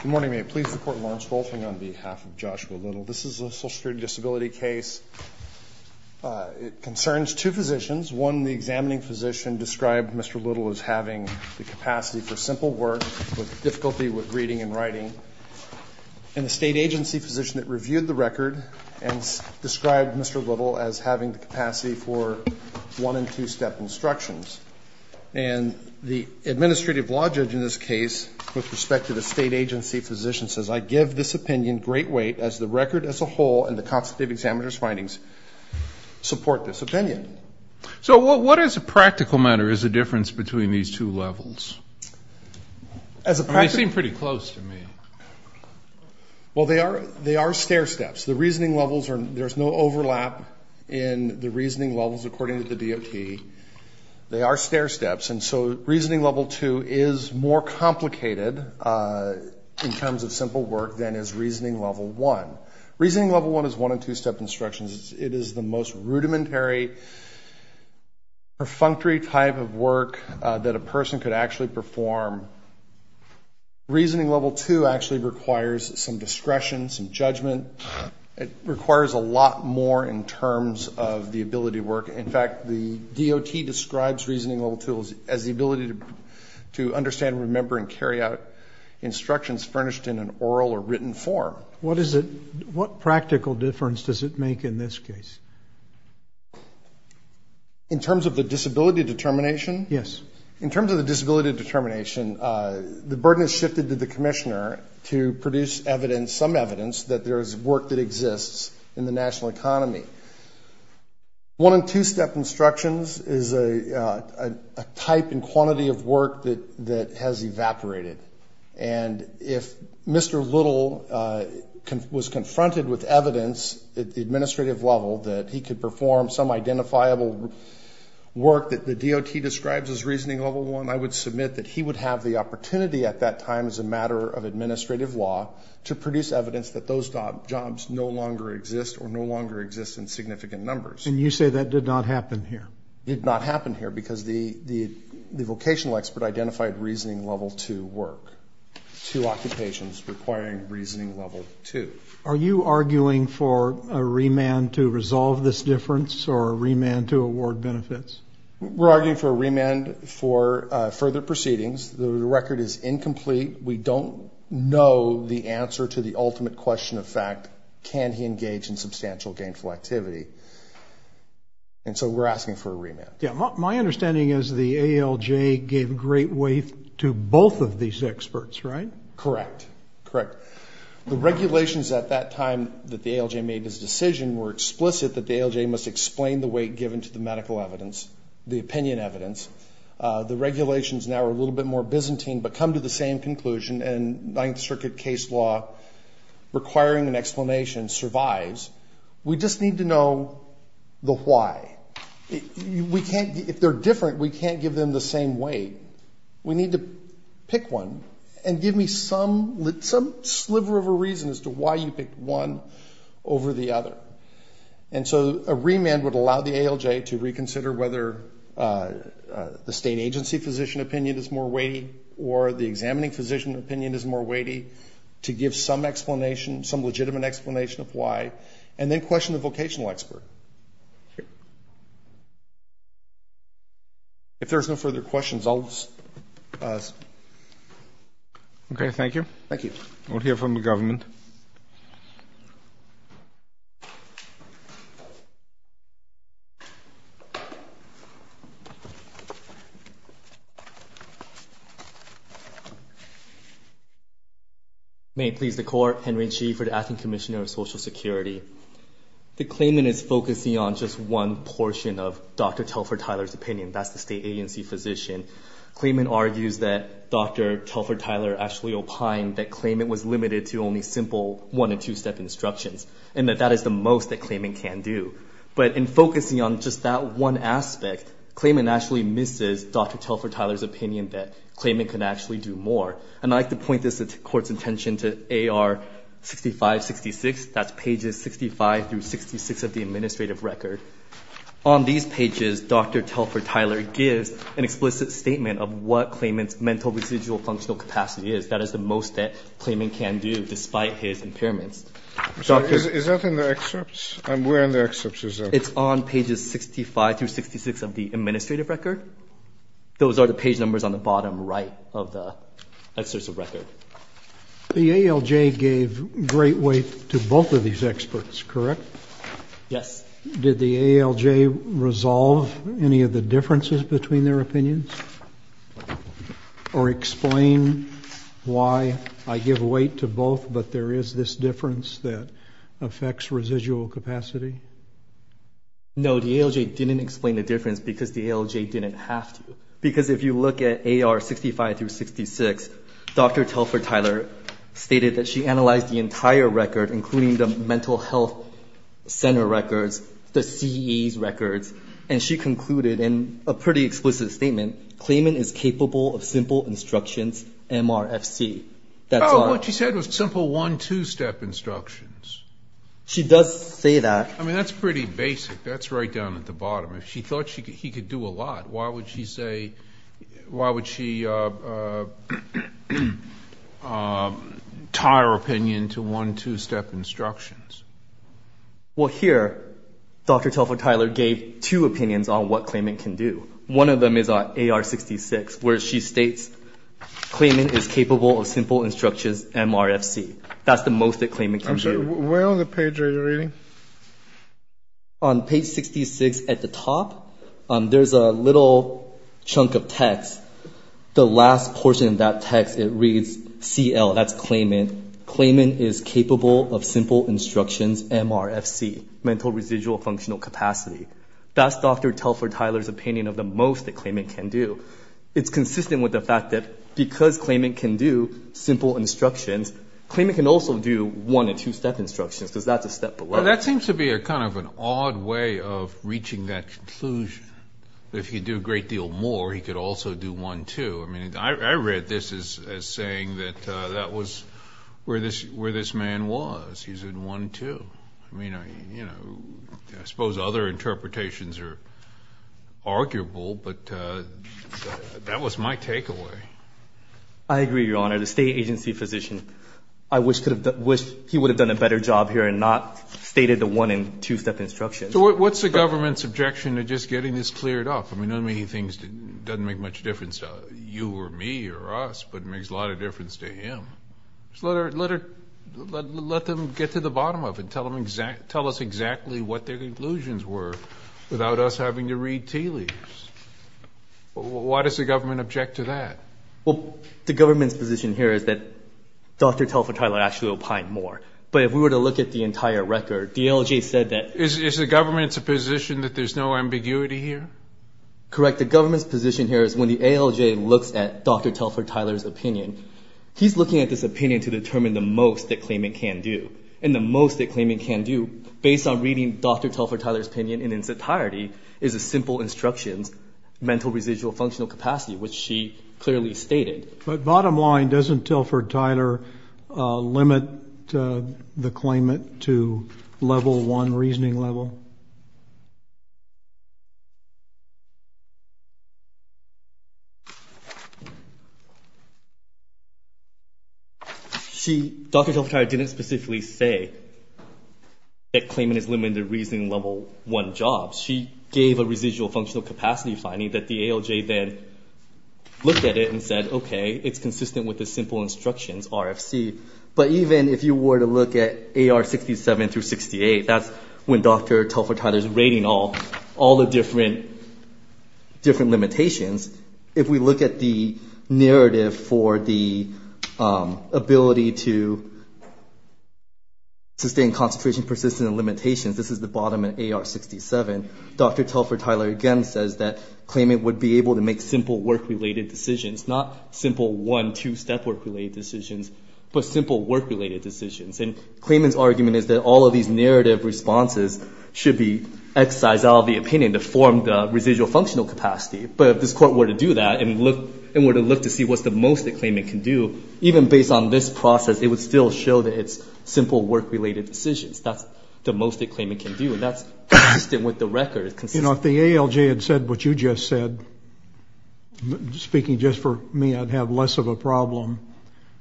Good morning. May it please the Court, Lawrence Wolfing on behalf of Joshua Little. This is a social security disability case. It concerns two physicians. One, the examining physician described Mr. Little as having the capacity for simple work with difficulty with reading and writing, and the state agency physician that reviewed the record and described Mr. Little as having the capacity for one- and two-step instructions. And the administrative law judge in this case, with respect to the state agency physician, says, I give this opinion great weight, as the record as a whole and the constitutive examiner's findings support this opinion. So what, as a practical matter, is the difference between these two levels? They seem pretty close to me. Well, they are stair steps. The reasoning levels, there's no overlap in the reasoning levels, according to the DOT. They are stair steps. And so reasoning level two is more complicated in terms of simple work than is reasoning level one. Reasoning level one is one- and two-step instructions. It is the most rudimentary, perfunctory type of work that a person could actually perform. Reasoning level two actually requires some discretion, some judgment. It requires a lot more in terms of the ability to work. In fact, the DOT describes reasoning level two as the ability to understand, remember, and carry out instructions furnished in an oral or written form. What practical difference does it make in this case? In terms of the disability determination? Yes. In terms of the disability determination, the burden is shifted to the commissioner to produce evidence, some evidence that there is work that exists in the national economy. One- and two-step instructions is a type and quantity of work that has evaporated. And if Mr. Little was confronted with evidence at the administrative level that he could perform some identifiable work that the DOT describes as reasoning level one, I would submit that he would have the opportunity at that time as a matter of administrative law to produce evidence that those jobs no longer exist or no longer exist in significant numbers. And you say that did not happen here? It did not happen here because the vocational expert identified reasoning level two work, two occupations requiring reasoning level two. Are you arguing for a remand to resolve this difference or a remand to award benefits? We're arguing for a remand for further proceedings. The record is incomplete. We don't know the answer to the ultimate question of fact, can he engage in substantial gainful activity? And so we're asking for a remand. Yeah. My understanding is the ALJ gave great weight to both of these experts, right? Correct. Correct. The regulations at that time that the ALJ made this decision were explicit that the ALJ must explain the weight given to the medical evidence, the opinion evidence. The regulations now are a little bit more Byzantine but come to the same conclusion, and Ninth Circuit case law requiring an explanation survives. We just need to know the why. If they're different, we can't give them the same weight. We need to pick one and give me some sliver of a reason as to why you picked one over the other. And so a remand would allow the ALJ to reconsider whether the state agency physician opinion is more weighty or the examining physician opinion is more weighty to give some explanation, some legitimate explanation of why, and then question the vocational expert. If there's no further questions, I'll just pause. Okay. Thank you. Thank you. We'll hear from the government. May it please the Court, Henry Chi for the Acting Commissioner of Social Security. The claimant is focusing on just one portion of Dr. Telfer-Tyler's opinion. That's the state agency physician. Claimant argues that Dr. Telfer-Tyler actually opined that claimant was limited to only simple one- and two-step instructions and that that is the most that claimant can do. But in focusing on just that one aspect, claimant actually misses Dr. Telfer-Tyler's opinion that claimant can actually do more. And I'd like to point this to the Court's attention to AR 6566. That's pages 65 through 66 of the administrative record. On these pages, Dr. Telfer-Tyler gives an explicit statement of what claimant's mental, residual, functional capacity is. That is the most that claimant can do despite his impairments. Is that in the excerpts? Where in the excerpts is that? It's on pages 65 through 66 of the administrative record. Those are the page numbers on the bottom right of the excerpts of record. The ALJ gave great weight to both of these experts, correct? Yes. Did the ALJ resolve any of the differences between their opinions or explain why I give weight to both but there is this difference that affects residual capacity? No, the ALJ didn't explain the difference because the ALJ didn't have to. Because if you look at AR 65 through 66, Dr. Telfer-Tyler stated that she analyzed the entire record, including the mental health center records, the CE's records, and she concluded in a pretty explicit statement, claimant is capable of simple instructions, MRFC. Oh, what she said was simple one, two-step instructions. She does say that. I mean, that's pretty basic. That's right down at the bottom. If she thought he could do a lot, why would she tie her opinion to one, two-step instructions? Well, here Dr. Telfer-Tyler gave two opinions on what claimant can do. One of them is on AR 66 where she states claimant is capable of simple instructions, MRFC. That's the most that claimant can do. I'm sorry, where on the page are you reading? On page 66 at the top, there's a little chunk of text. The last portion of that text, it reads CL. That's claimant. Claimant is capable of simple instructions, MRFC, mental residual functional capacity. That's Dr. Telfer-Tyler's opinion of the most that claimant can do. It's consistent with the fact that because claimant can do simple instructions, claimant can also do one and two-step instructions because that's a step below. Well, that seems to be a kind of an odd way of reaching that conclusion. If he could do a great deal more, he could also do one, two. I mean, I read this as saying that that was where this man was. He's in one, two. I suppose other interpretations are arguable, but that was my takeaway. I agree, Your Honor. The state agency physician, I wish he would have done a better job here and not stated the one and two-step instructions. What's the government's objection to just getting this cleared up? I mean, it doesn't make much difference to you or me or us, but it makes a lot of difference to him. Let them get to the bottom of it. Tell us exactly what their conclusions were without us having to read tea leaves. Why does the government object to that? Well, the government's position here is that Dr. Telfer-Tyler actually opined more. But if we were to look at the entire record, the ALJ said that the government's position that there's no ambiguity here? Correct. The government's position here is when the ALJ looks at Dr. Telfer-Tyler's opinion, he's looking at this opinion to determine the most that claimant can do. And the most that claimant can do, based on reading Dr. Telfer-Tyler's opinion in its entirety, is a simple instruction, mental, residual, functional capacity, which she clearly stated. But bottom line, doesn't Telfer-Tyler limit the claimant to level one reasoning level? See, Dr. Telfer-Tyler didn't specifically say that claimant is limited to reasoning level one jobs. She gave a residual functional capacity finding that the ALJ then looked at it and said, okay, it's consistent with the simple instructions, RFC. But even if you were to look at AR 67 through 68, that's when Dr. Telfer-Tyler's rating all the different limitations. If we look at the narrative for the ability to sustain concentration persistence and limitations, this is the bottom in AR 67, Dr. Telfer-Tyler, again, says that claimant would be able to make simple work-related decisions, not simple one, two step work-related decisions, but simple work-related decisions. And claimant's argument is that all of these narrative responses should be exercised out of the opinion to form the residual functional capacity. But if this court were to do that and were to look to see what's the most that claimant can do, even based on this process, it would still show that it's simple work-related decisions. That's the most that claimant can do, and that's consistent with the record. You know, if the ALJ had said what you just said, speaking just for me, I'd have less of a problem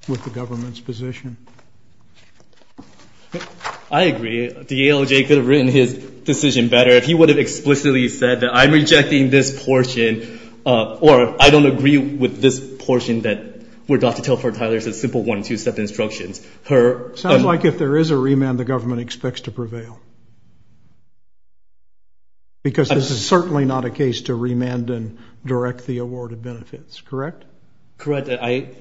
with the government's position. I agree. The ALJ could have written his decision better if he would have explicitly said that I'm rejecting this portion or I don't agree with this portion that Dr. Telfer-Tyler's simple one, two step instructions. Sounds like if there is a remand, the government expects to prevail. Because this is certainly not a case to remand and direct the awarded benefits, correct? Correct. It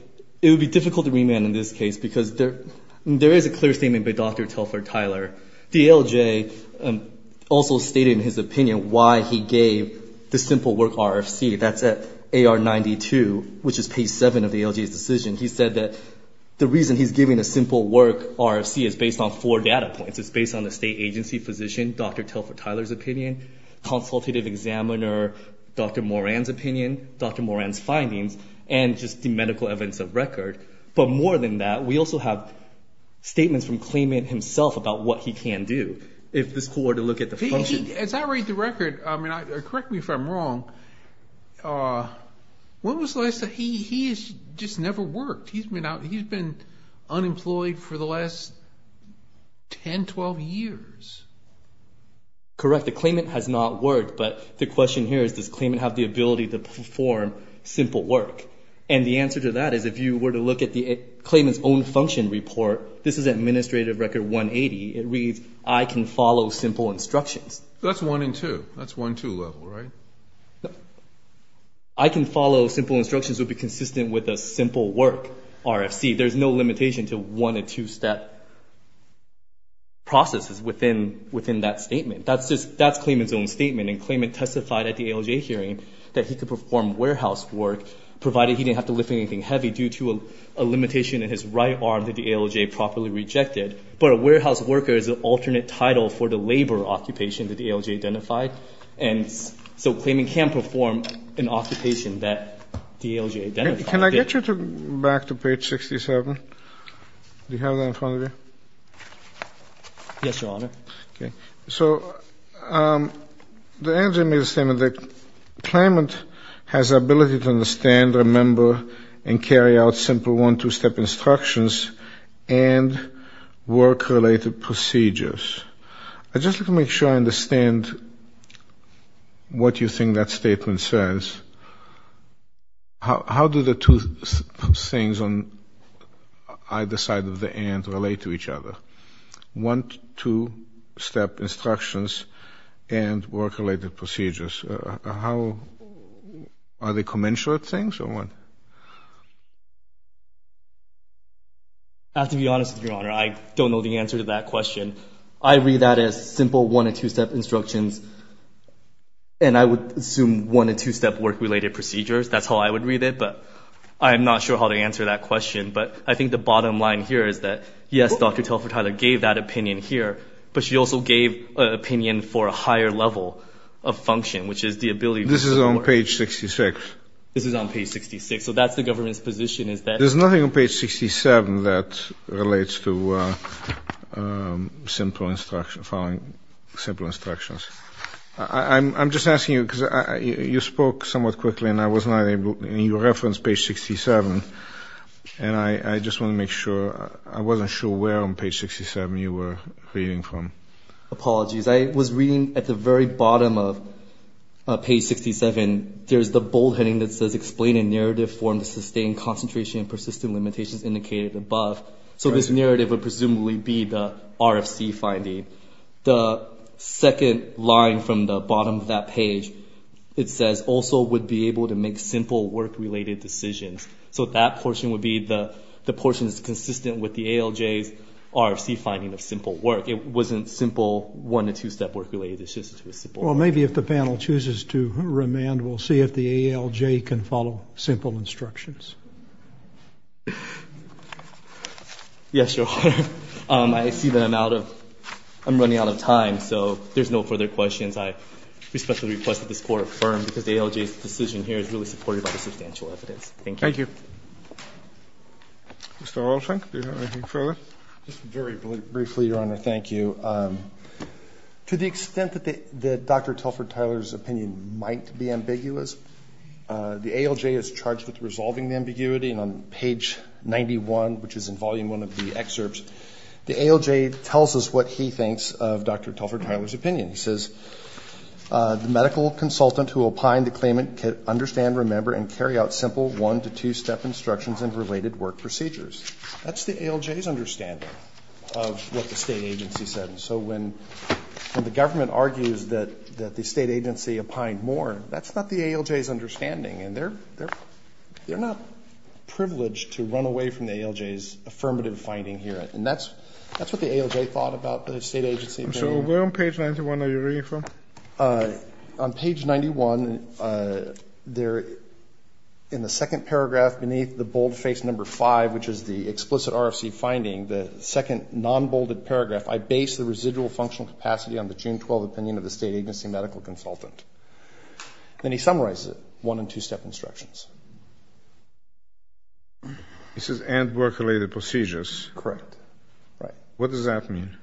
would be difficult to remand in this case because there is a clear statement by Dr. Telfer-Tyler. The ALJ also stated in his opinion why he gave the simple work RFC. That's at AR 92, which is page 7 of the ALJ's decision. He said that the reason he's giving a simple work RFC is based on four data points. It's based on the state agency physician, Dr. Telfer-Tyler's opinion, consultative examiner, Dr. Moran's opinion, Dr. Moran's findings, and just the medical evidence of record. But more than that, we also have statements from claimant himself about what he can do if this court were to look at the function. As I read the record, correct me if I'm wrong, he has just never worked. He's been unemployed for the last 10, 12 years. Correct. The claimant has not worked. But the question here is does claimant have the ability to perform simple work? And the answer to that is if you were to look at the claimant's own function report, this is administrative record 180. It reads, I can follow simple instructions. That's 1 and 2. That's 1-2 level, right? I can follow simple instructions would be consistent with a simple work RFC. There's no limitation to one or two step processes within that statement. That's claimant's own statement. And claimant testified at the ALJ hearing that he could perform warehouse work, provided he didn't have to lift anything heavy due to a limitation in his right arm that the ALJ properly rejected. But a warehouse worker is an alternate title for the labor occupation that the ALJ identified. And so claimant can perform an occupation that the ALJ identified. Can I get you back to page 67? Do you have that in front of you? Yes, Your Honor. Okay. So the ALJ made a statement that claimant has the ability to understand, remember, and carry out simple 1-2 step instructions and work-related procedures. I'd just like to make sure I understand what you think that statement says. How do the two things on either side of the and relate to each other? 1-2 step instructions and work-related procedures. Are they commensurate things or what? To be honest with you, Your Honor, I don't know the answer to that question. I read that as simple 1-2 step instructions, and I would assume 1-2 step work-related procedures. That's how I would read it, but I'm not sure how to answer that question. But I think the bottom line here is that, yes, Dr. Telfer-Tyler gave that opinion here, but she also gave an opinion for a higher level of function, which is the ability to support. This is on page 66. This is on page 66. So that's the government's position is that. There's nothing on page 67 that relates to simple instructions, following simple instructions. I'm just asking you because you spoke somewhat quickly, and I was not able, and you referenced page 67, and I just want to make sure. I wasn't sure where on page 67 you were reading from. Apologies. I was reading at the very bottom of page 67. There's the bold heading that says, Explain a narrative form to sustain concentration and persistent limitations indicated above. So this narrative would presumably be the RFC finding. The second line from the bottom of that page, it says, Also would be able to make simple work-related decisions. So that portion would be the portion that's consistent with the ALJ's RFC finding of simple work. It wasn't simple one- to two-step work-related decisions. Well, maybe if the panel chooses to remand, we'll see if the ALJ can follow simple instructions. Yes, sure. I see that I'm running out of time, so there's no further questions. I respectfully request that this Court affirm, because the ALJ's decision here is really supported by the substantial evidence. Thank you. Thank you. Mr. Olshank, do you have anything further? Just very briefly, Your Honor, thank you. To the extent that Dr. Telford Tyler's opinion might be ambiguous, the ALJ is charged with resolving the ambiguity, and on page 91, which is in Volume 1 of the excerpts, the ALJ tells us what he thinks of Dr. Telford Tyler's opinion. He says, The medical consultant who opined the claimant can understand, remember, and carry out simple one- to two-step instructions in related work procedures. That's the ALJ's understanding of what the state agency said. So when the government argues that the state agency opined more, that's not the ALJ's understanding, and they're not privileged to run away from the ALJ's affirmative finding here, and that's what the ALJ thought about the state agency opinion. So where on page 91 are you reading from? On page 91, in the second paragraph beneath the bold-faced number 5, which is the explicit RFC finding, the second non-bolded paragraph, I base the residual functional capacity on the June 12 opinion of the state agency medical consultant. Then he summarizes it, one- and two-step instructions. He says, and work-related procedures. Correct. Right. What does that mean?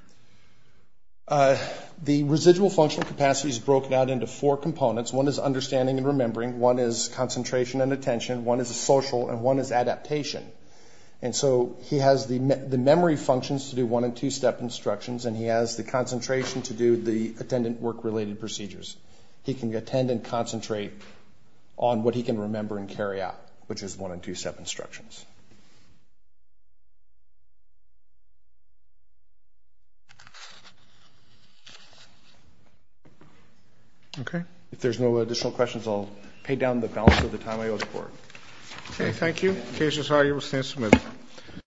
The residual functional capacity is broken out into four components. One is understanding and remembering. One is concentration and attention. One is social. And one is adaptation. And so he has the memory functions to do one- and two-step instructions, and he has the concentration to do the attendant work-related procedures. He can attend and concentrate on what he can remember and carry out, which is one- and two-step instructions. Okay. If there's no additional questions, I'll pay down the balance of the time I owe the Court. Okay. Thank you. The case is argued. We stand submitted.